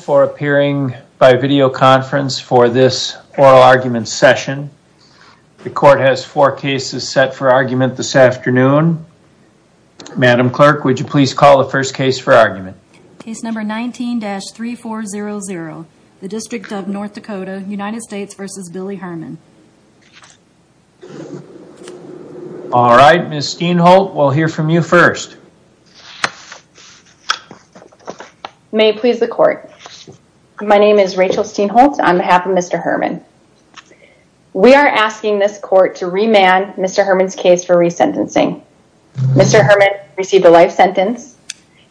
for appearing by video conference for this oral argument session. The court has four cases set for argument this afternoon. Madam Clerk, would you please call the first case for argument? Case number 19-3400, the District of North Dakota, United States v. Billy Herman. All right, Ms. Steinholt, we'll hear from you first. May it please the court. My name is Rachel Steinholt on behalf of Mr. Herman. We are asking this court to remand Mr. Herman's case for resentencing. Mr. Herman received a life sentence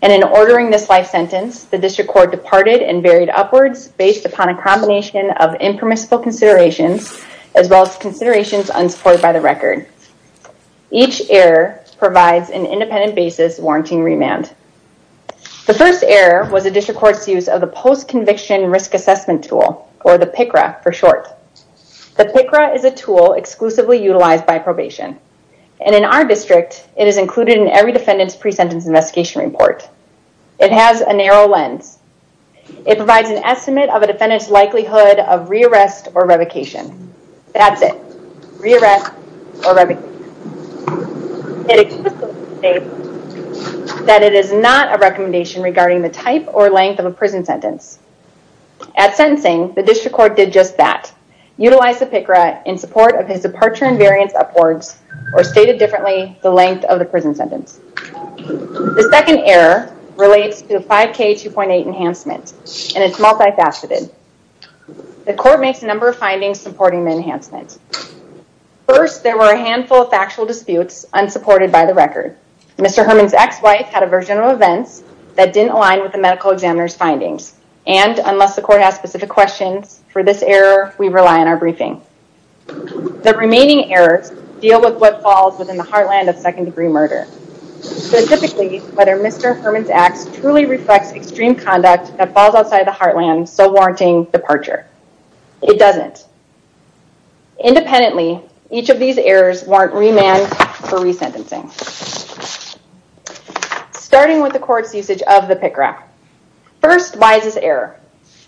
and in ordering this life sentence, the District Court departed and varied upwards based upon a combination of impermissible considerations as well as considerations unsupported by the record. Each error provides an independent basis warranting remand. The first error was the District Court's use of the Post-Conviction Risk Assessment Tool, or the PICRA for short. The PICRA is a tool exclusively utilized by probation. And in our district, it is included in every defendant's pre-sentence investigation report. It has a narrow lens. It provides an estimate of a defendant's likelihood of re-arrest or revocation. That's it. Re-arrest or revocation. It explicitly states that it is not a recommendation regarding the type or length of a prison sentence. At sentencing, the District Court did just that. Utilize the PICRA in support of his departure and variance upwards, or stated differently, the The court makes a number of findings supporting the enhancement. First, there were a handful of factual disputes unsupported by the record. Mr. Herman's ex-wife had a version of events that didn't align with the medical examiner's findings. And unless the court has specific questions for this error, we rely on our briefing. The remaining errors deal with what falls within the heartland of second-degree murder. Specifically, whether Mr. Herman's ex truly reflects extreme conduct that falls outside the heartland, so warranting departure. It doesn't. Independently, each of these errors warrant remand for re-sentencing. Starting with the court's usage of the PICRA. First, why is this error?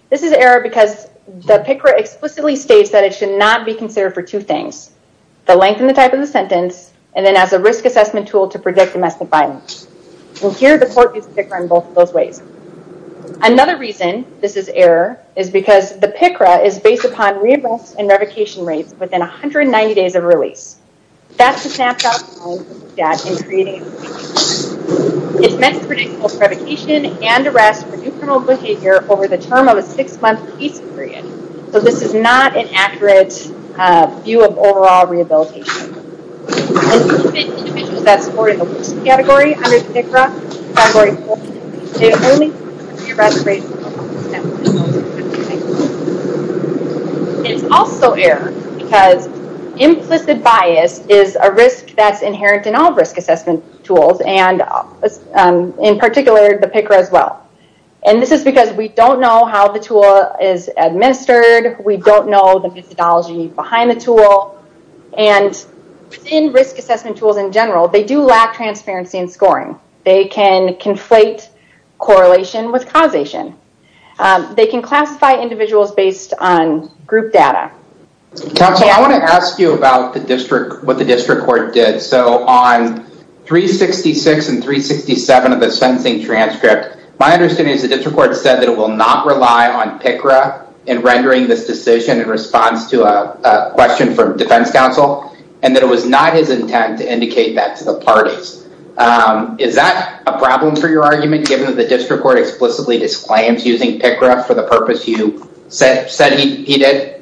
This is an error because the PICRA explicitly states that it should not be considered for two things. The length and the type of the sentence, and then as a risk assessment tool to predict domestic violence. Here, the court used PICRA in both of those ways. Another reason this is an error is because the PICRA is based upon re-arrest and revocation rates within 190 days of release. That's a snapshot in creating a PICRA. It's meant to predict both revocation and arrest for new criminal behavior over the term of a six-month release period. So this is not an accurate view of overall rehabilitation. It's also an error because implicit bias is a risk that's inherent in all risk assessment tools, and in particular, the PICRA as well. This is because we don't know how the tool is administered. We don't know the methodology behind the tool. In risk assessment tools in general, they do lack transparency and scoring. They can conflate correlation with causation. They can classify individuals based on group data. Counsel, I want to ask you about what the court said that it will not rely on PICRA in rendering this decision in response to a question from defense counsel, and that it was not his intent to indicate that to the parties. Is that a problem for your argument, given that the district court explicitly disclaims using PICRA for the purpose you said he did?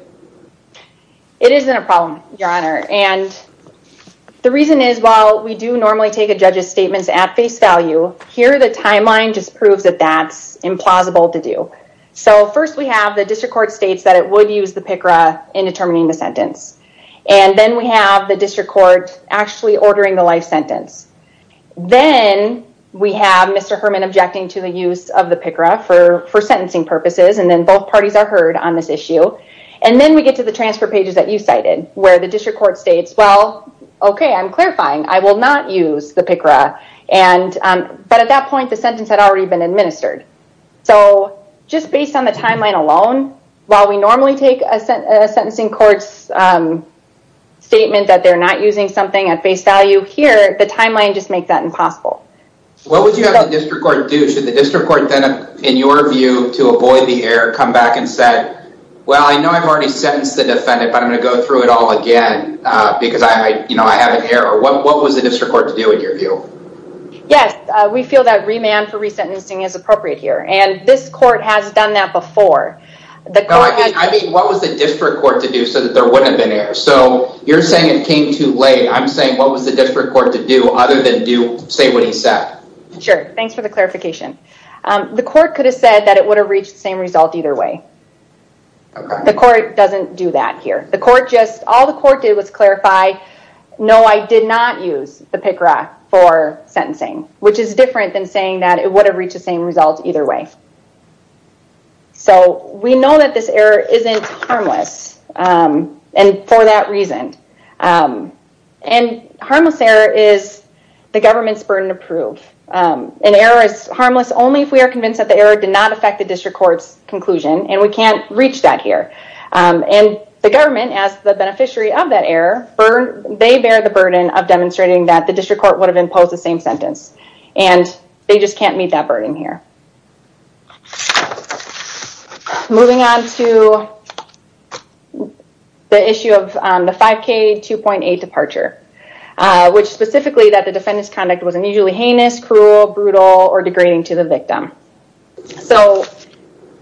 It isn't a problem, Your Honor, and the reason is while we do normally take a judge's statements at face value, here the timeline just proves that that's implausible to do. First, we have the district court states that it would use the PICRA in determining the sentence. Then we have the district court actually ordering the life sentence. Then we have Mr. Herman objecting to the use of the PICRA for sentencing purposes, and then both parties are heard on this issue. Then we get to the transfer pages that you cited, where the district court states, well, okay, I'm clarifying. I will not use the PICRA. But at that point, the sentence had already been administered. So just based on the timeline alone, while we normally take a sentencing court's statement that they're not using something at face value, here the timeline just makes that impossible. What would you have the district court do? Should the district court then, in your view, to avoid the error, come back and say, well, I know I've already sentenced the defendant, but I'm going to go through it all again because I have an error. What was the district court to do in your view? Yes. We feel that remand for resentencing is appropriate here, and this court has done that before. I mean, what was the district court to do so that there wouldn't have been errors? So you're saying it came too late. I'm saying, what was the district court to do other than say what he said? Sure. Thanks for the clarification. The court could have said that it would have reached the same result either way. The court doesn't do that here. The court just, all the court did was clarify, no, I did not use the PICRA for sentencing, which is different than saying that it would have reached the same result either way. So we know that this error isn't harmless, and for that reason. And harmless error is the government's district court's conclusion, and we can't reach that here. And the government as the beneficiary of that error, they bear the burden of demonstrating that the district court would have imposed the same sentence. And they just can't meet that burden here. Moving on to the issue of the 5K 2.8 departure, which specifically that the defendant's conduct was unusually heinous, cruel, brutal, or degrading to the victim. So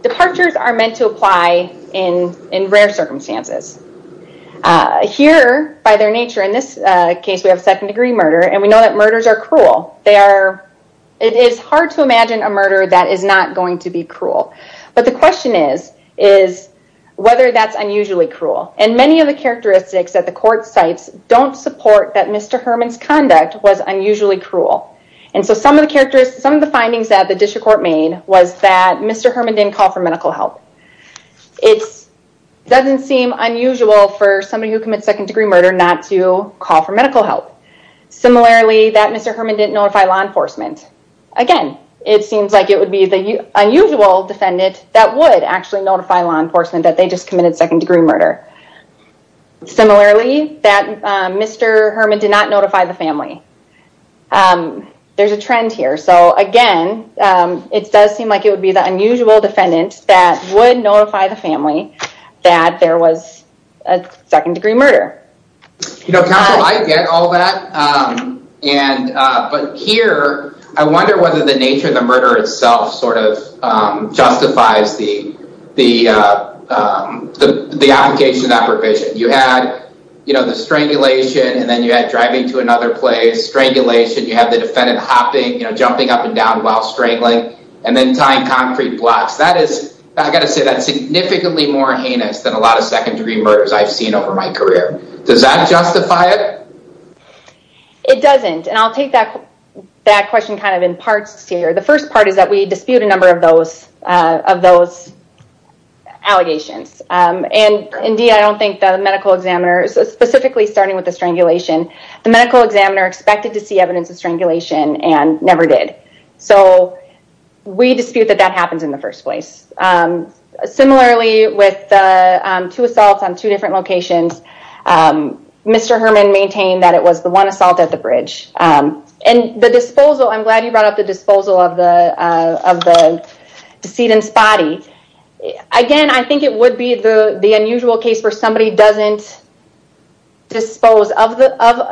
departures are meant to apply in rare circumstances. Here, by their nature, in this case, we have second degree murder, and we know that murders are cruel. It is hard to imagine a murder that is not going to be cruel. But the question is, is whether that's unusually cruel. And many of the characteristics that the court cites don't support that Mr. Herman's conduct was unusually cruel. And so some of the findings that the district court made was that Mr. Herman didn't call for medical help. It doesn't seem unusual for somebody who commits second degree murder not to call for medical help. Similarly, that Mr. Herman didn't notify law enforcement. Again, it seems like it would be the unusual defendant that would actually notify law enforcement that they just committed second degree murder. Similarly, that Mr. Herman did not notify the family. There's a trend here. So again, it does seem like it would be the unusual defendant that would notify the family that there was a second degree murder. You know, counsel, I get all that. But here, I wonder whether the nature of the strangulation and then you had driving to another place, strangulation, you have the defendant hopping, you know, jumping up and down while strangling and then tying concrete blocks. That is, I gotta say that's significantly more heinous than a lot of second degree murders I've seen over my career. Does that justify it? It doesn't. And I'll take that question kind of in parts here. The first part is that we dispute a number of those of those allegations. And indeed, I don't think the medical examiner specifically starting with the strangulation, the medical examiner expected to see evidence of strangulation and never did. So we dispute that that happens in the first place. Similarly, with two assaults on two different locations, Mr. Herman maintained that it was the one assault at the bridge and the disposal. I'm glad you brought up the disposal of the of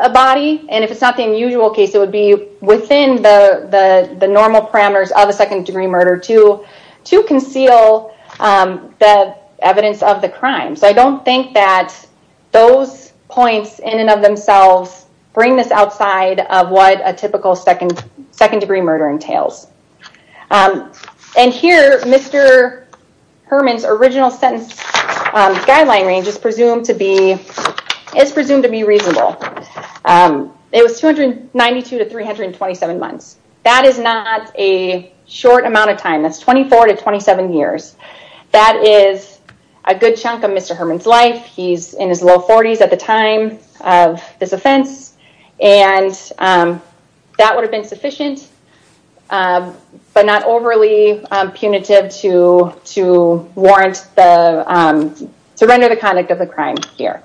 a body. And if it's not the unusual case, it would be within the normal parameters of a second degree murder to to conceal the evidence of the crime. So I don't think that those points in and of themselves bring this outside of what a typical second second degree murder entails. And here, Mr. Herman's original sentence guideline range is presumed to be is presumed to be reasonable. It was 292 to 327 months. That is not a short amount of time. That's 24 to 27 years. That is a good chunk of Mr. Herman's life. He's in his low 40s at the time of this offense. And that would have been sufficient, but not overly punitive to to warrant the to render the conduct of the crime here.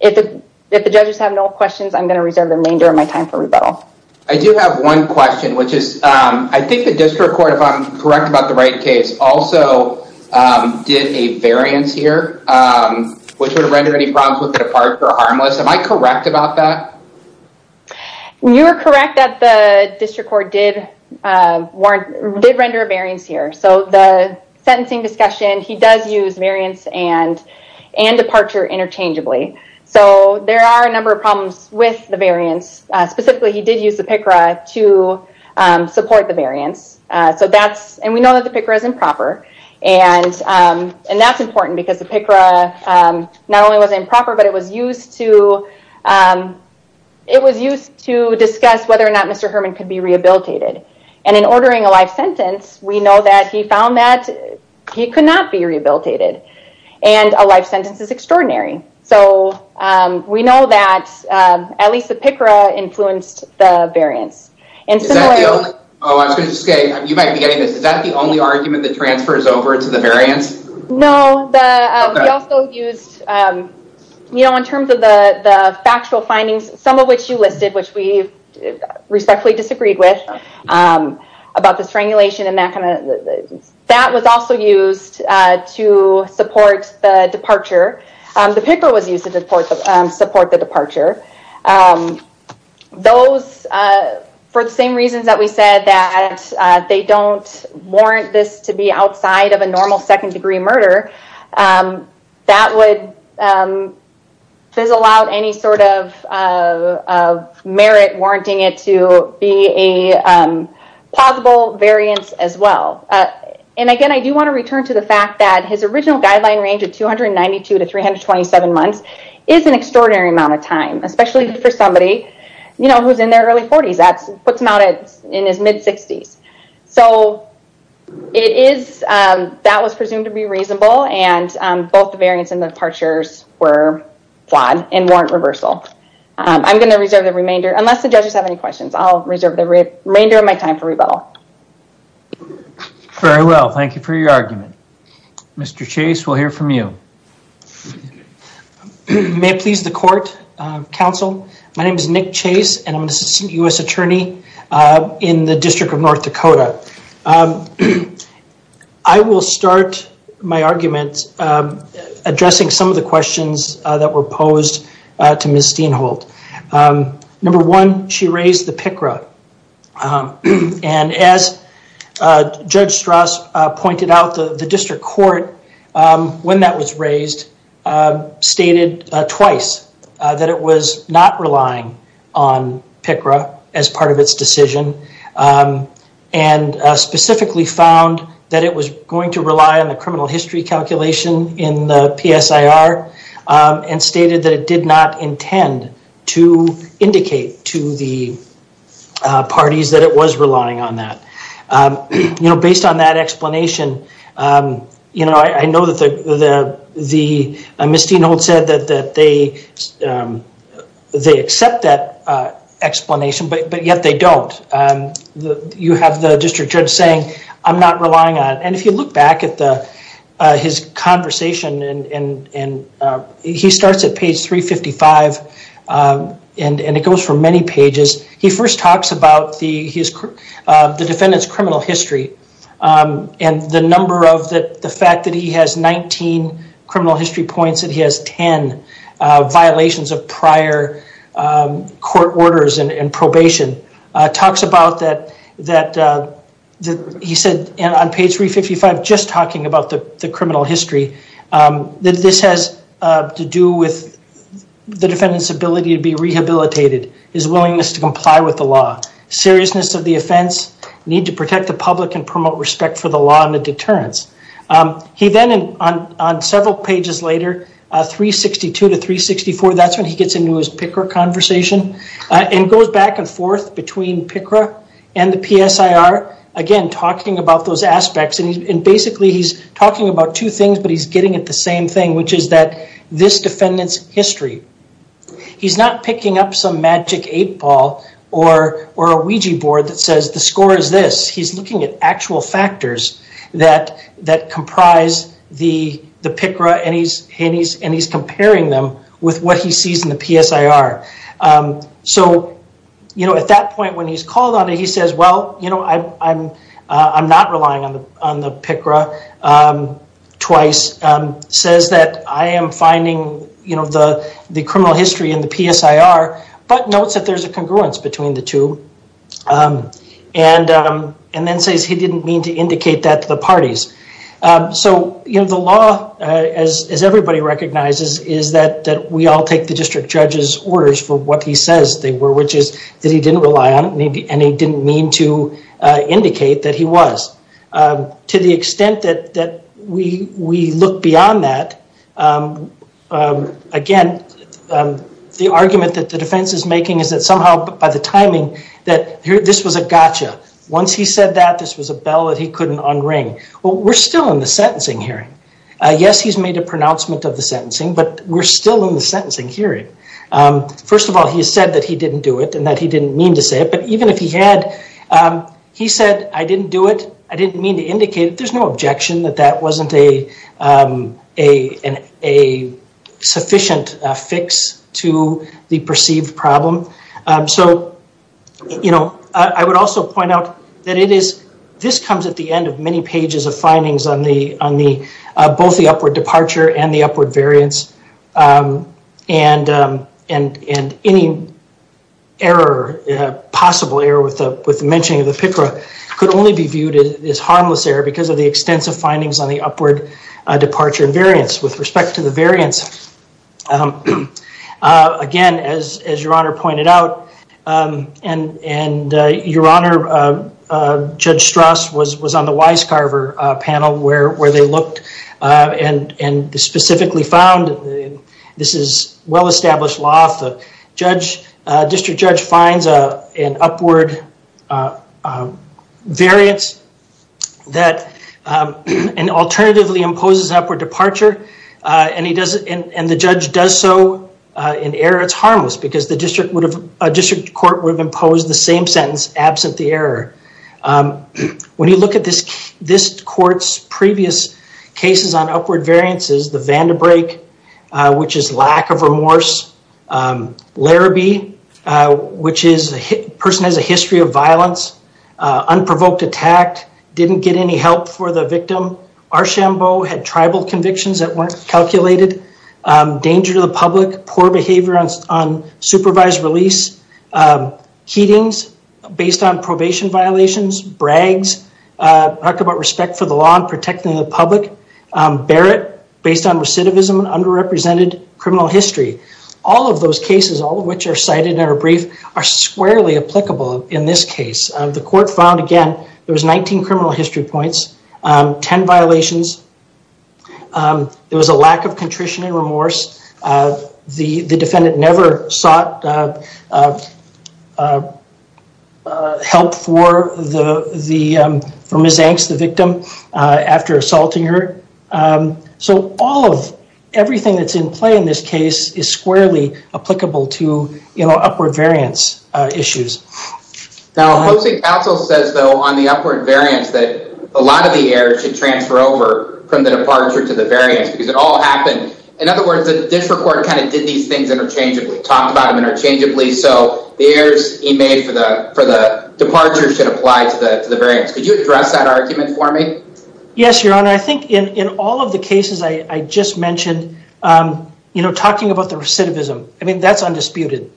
If the judges have no questions, I'm going to reserve the remainder of my time for rebuttal. I do have one question, which is, I think the district court, if I'm correct about the right case, also did a variance here, which would render any problems with departure harmless. Am I you're correct that the district court did warrant did render a variance here. So the sentencing discussion, he does use variance and and departure interchangeably. So there are a number of problems with the variance. Specifically, he did use the picker to support the variance. So that's and we know that the picker is improper. And and that's important because the picker not only was improper, but it was used to. It was used to discuss whether or not Mr. Herman could be rehabilitated. And in ordering a life sentence, we know that he found that he could not be rehabilitated. And a life sentence is extraordinary. So we know that at least the picker influenced the variance. And oh, I'm just getting you might be getting this. Is that the only argument that transfers over to the you know, in terms of the factual findings, some of which you listed, which we respectfully disagreed with about the strangulation and that kind of that was also used to support the departure. The picker was used to support the support the departure. Those for the same reasons that we said that they don't warrant this to be outside of a normal second degree murder that would fizzle out any sort of merit warranting it to be a possible variance as well. And again, I do want to return to the fact that his original guideline range of 292 to 327 months is an extraordinary amount of time, especially for somebody, you know, who's in their early 40s. That's what's mounted in his mid 60s. So it is that was presumed to be reasonable and both the variance and the departures were flawed and warrant reversal. I'm going to reserve the remainder unless the judges have any questions. I'll reserve the remainder of my time for rebuttal. Very well, thank you for your argument. Mr. Chase, we'll hear from you. May it please the court, counsel. My name is Nick Chase and I'm the Assistant U.S. Attorney in the District of North Dakota. I will start my arguments addressing some of the questions that were posed to Ms. Steinholt. Number one, she raised the picker. And as Judge Strauss pointed out the district court when that was raised, stated twice that it was not relying on PICRA as part of its decision and specifically found that it was going to rely on the criminal history calculation in the PSIR and stated that it did not intend to indicate to the parties that it was relying on that. You know, based on that the Ms. Steinholt said that they accept that explanation, but yet they don't. You have the district judge saying, I'm not relying on it. And if you look back at his conversation and he starts at page 355 and it goes from many pages. He first talks about the defendant's criminal history and the number of the fact that he has 19 criminal history points, that he has 10 violations of prior court orders and probation. Talks about that he said on page 355, just talking about the criminal history, that this has to do with the defendant's ability to be rehabilitated, his willingness to comply with the law, seriousness of the offense, need to be rehabilitated. Then on several pages later, 362 to 364, that's when he gets into his PICRA conversation and goes back and forth between PICRA and the PSIR. Again, talking about those aspects and basically he's talking about two things, but he's getting at the same thing, which is that this defendant's history. He's not picking up some magic eight ball or a Ouija board that says the score is this. He's looking at actual factors that comprise the PICRA and he's comparing them with what he sees in the PSIR. At that point when he's called on it, he says, well, I'm not relying on the PICRA, but there's a congruence between the two. Then says he didn't mean to indicate that to the parties. The law, as everybody recognizes, is that we all take the district judge's orders for what he says they were, which is that he didn't rely on it and he didn't mean to indicate that he was. To the extent that we look beyond that, again, the argument that the defense is making is that somehow by the timing that this was a gotcha. Once he said that, this was a bell that he couldn't unring. Well, we're still in the sentencing hearing. Yes, he's made a pronouncement of the sentencing, but we're still in the sentencing hearing. First of all, he said that he didn't do it and that he didn't mean to say it, but even if he had, he said, I didn't do it. I didn't mean to indicate it. There's no sufficient fix to the perceived problem. I would also point out that this comes at the end of many pages of findings on both the upward departure and the upward variance. Any possible error with the mentioning of the PICRA could only be viewed as harmless error because of the extensive findings on the upward departure and variance. With respect to the variance, again, as Your Honor pointed out, and Your Honor, Judge Strauss was on the Weiscarver panel where they looked and specifically found this is well-established law. The district judge finds an upward variance that alternatively imposes upward departure and the judge does so in error, it's harmless because a district court would have imposed the same sentence absent the error. When you look at this court's previous cases on upward variances, the Vandebrink, which is lack of remorse, Larrabee, which is a person with a history of violence, unprovoked attack, didn't get any help for the victim, Archambault, had tribal convictions that weren't calculated, danger to the public, poor behavior on supervised release, Heatings, based on probation violations, Braggs, talked about respect for the law and protecting the public, Barrett, based on recidivism and underrepresented criminal history. All of those cases, all of which are cited in our brief, are squarely applicable in this case. The court found, again, there was 19 criminal history points, 10 violations, there was a lack of contrition and remorse, the defendant never sought help for Ms. Barrett, thanks to the victim, after assaulting her. So all of everything that's in play in this case is squarely applicable to upward variance issues. Now, the housing council says, though, on the upward variance that a lot of the errors should transfer over from the departure to the variance because it all happened. In other words, the district court kind of did these things interchangeably, talked about them interchangeably, so the errors he made for the departure should apply to the variance. Could you address that argument for me? Yes, your honor. I think in all of the cases I just mentioned, you know, talking about the recidivism, I mean, that's undisputed.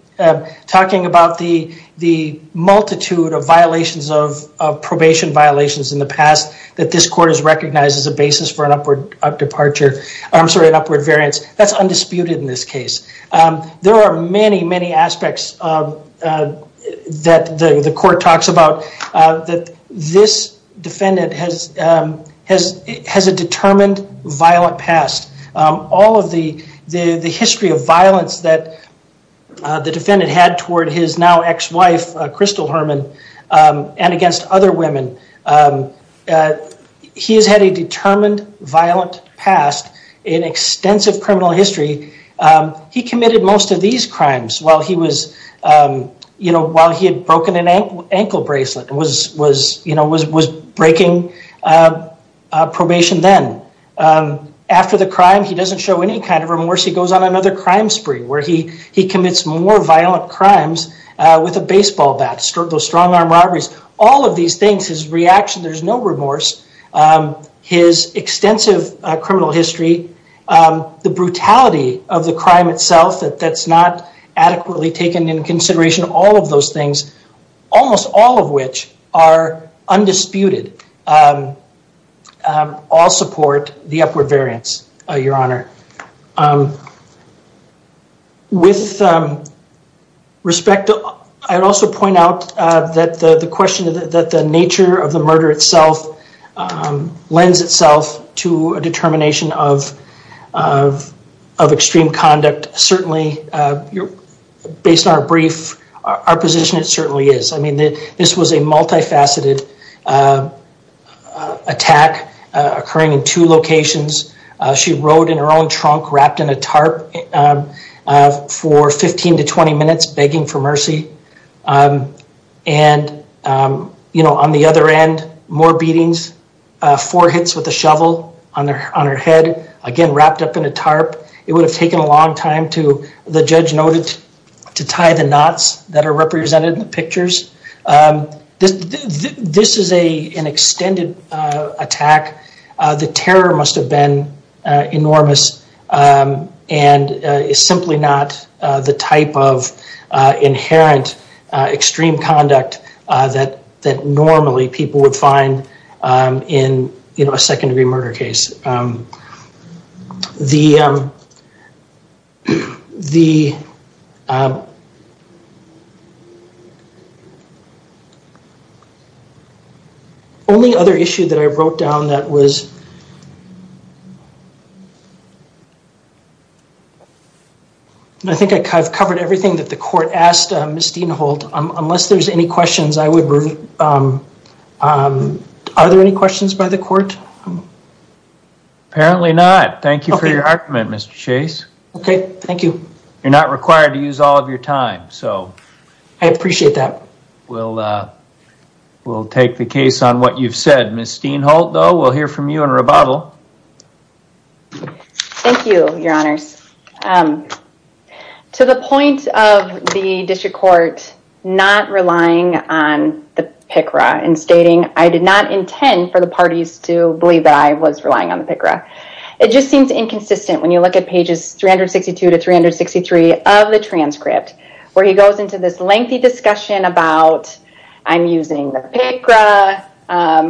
Talking about the multitude of violations of probation violations in the past that this court has recognized as a basis for an upward departure, I'm sorry, an upward variance. That's undisputed in this case. There are many, many aspects that the court talks about that this defendant has a determined violent past. All of the history of violence that the defendant had toward his now ex-wife, Crystal Herman, and against other women, he has had a determined violent past in extensive criminal history. He committed most of these crimes while he was, you know, while he had broken an ankle bracelet and was, you know, was breaking probation then. After the crime, he doesn't show any kind of remorse. He goes on another crime spree where he commits more violent crimes with a baseball bat, those strong arm robberies. All of these things, his reaction, there's no remorse. His extensive criminal history, the brutality of the crime itself, that's not adequately taken in consideration. All of those things, almost all of which are undisputed, all support the upward variance, your honor. With respect, I'd also point out that the question that the nature of the murder itself lends itself to a determination of extreme conduct. Certainly, based on our brief, our position, it certainly is. I mean, this was a multifaceted attack occurring in two locations. She rode in her own trunk, wrapped in a tarp for 15 to 20 minutes, begging for mercy. And, you know, on the other end, more beatings, four hits with a shovel on her head, again, wrapped up in a tarp. It would have taken a long time to, the judge noted, to tie the knots that are represented in the pictures. This is an extended attack. The terror must have been enormous and is simply not the type of inherent extreme conduct that normally people would find in a second degree murder case. The only other issue that I wrote down that was, I think I've covered everything that the court asked Ms. Dean Holt. Unless there's any questions, I would, are there any questions by the court? Apparently not. Thank you for your argument, Mr. Chase. Okay, thank you. You're not required to use all of your time, so. I appreciate that. We'll take the case on what you've said. Ms. Dean Holt, though, we'll hear from you in rebuttal. Thank you, your honors. To the point of the district court not relying on the PICRA and stating, I did not intend for the parties to believe that I was relying on the PICRA. It just seems inconsistent when you look at pages 362 to 363 of the transcript, where he goes into this lengthy discussion about, I'm using the PICRA,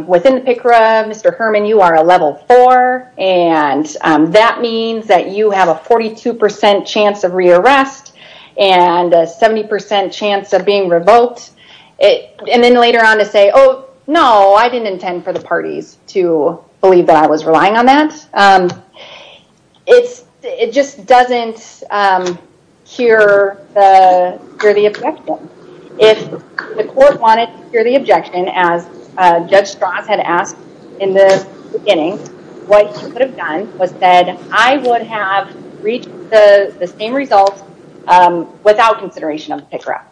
within the PICRA, Mr. Herman, you are a level four, and that means that you have a 42% chance of rearrest and a 70% chance of being revoked. And then later on to say, oh, no, I didn't intend for the parties to believe that I was relying on that. It just doesn't hear the objection. If the court wanted to hear the objection, as Judge Strauss had asked in the beginning, what he could have done was said, I would have reached the same results without consideration of the PICRA.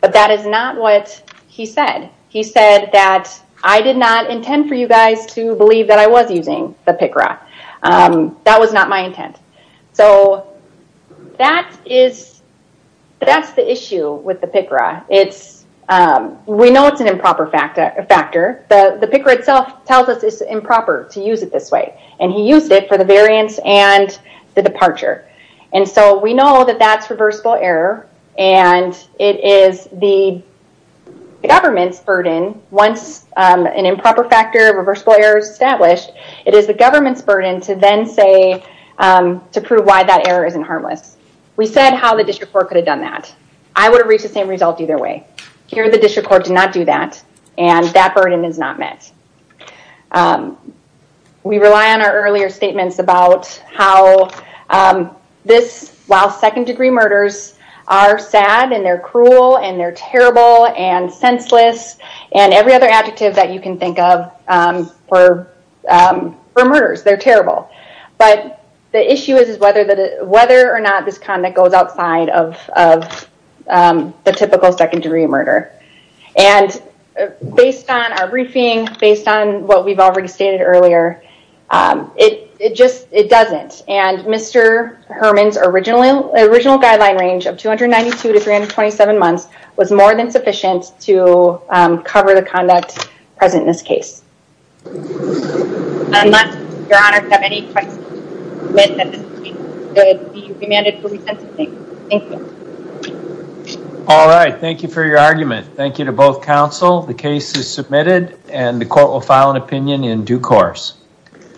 But that is not what he said. He said that I did not intend for you guys to believe that I was using the PICRA. That was not my intent. So that's the issue with the PICRA. We know it's an improper factor. The PICRA itself tells us it's improper to use it this way. And he used it for the variance and the departure. And so we know that that's reversible error. And it is the government's burden. Once an improper factor, reversible error is established, it is the government's burden to then say, to prove why that error isn't harmless. We said how the district court could have done that. I would have reached the same result either way. Here, the district court did not do that. And that burden is not met. We rely on our earlier statements about how this, while second-degree murders are sad and they're cruel and they're terrible and senseless, and every other adjective that you can think of for murders, they're terrible. But the issue is whether or not this conduct goes outside of the typical second-degree murder. And based on our briefing, based on what we've already stated earlier, it just, it doesn't. And Mr. Herman's original guideline range of 292 to 327 months was more than sufficient to cover the conduct present in this case. I must, Your Honor, have any questions. I submit that this case should be remanded for reconsideration. Thank you. All right. Thank you for your argument. Thank you to both counsel. The case is submitted and the court will file an opinion in due course.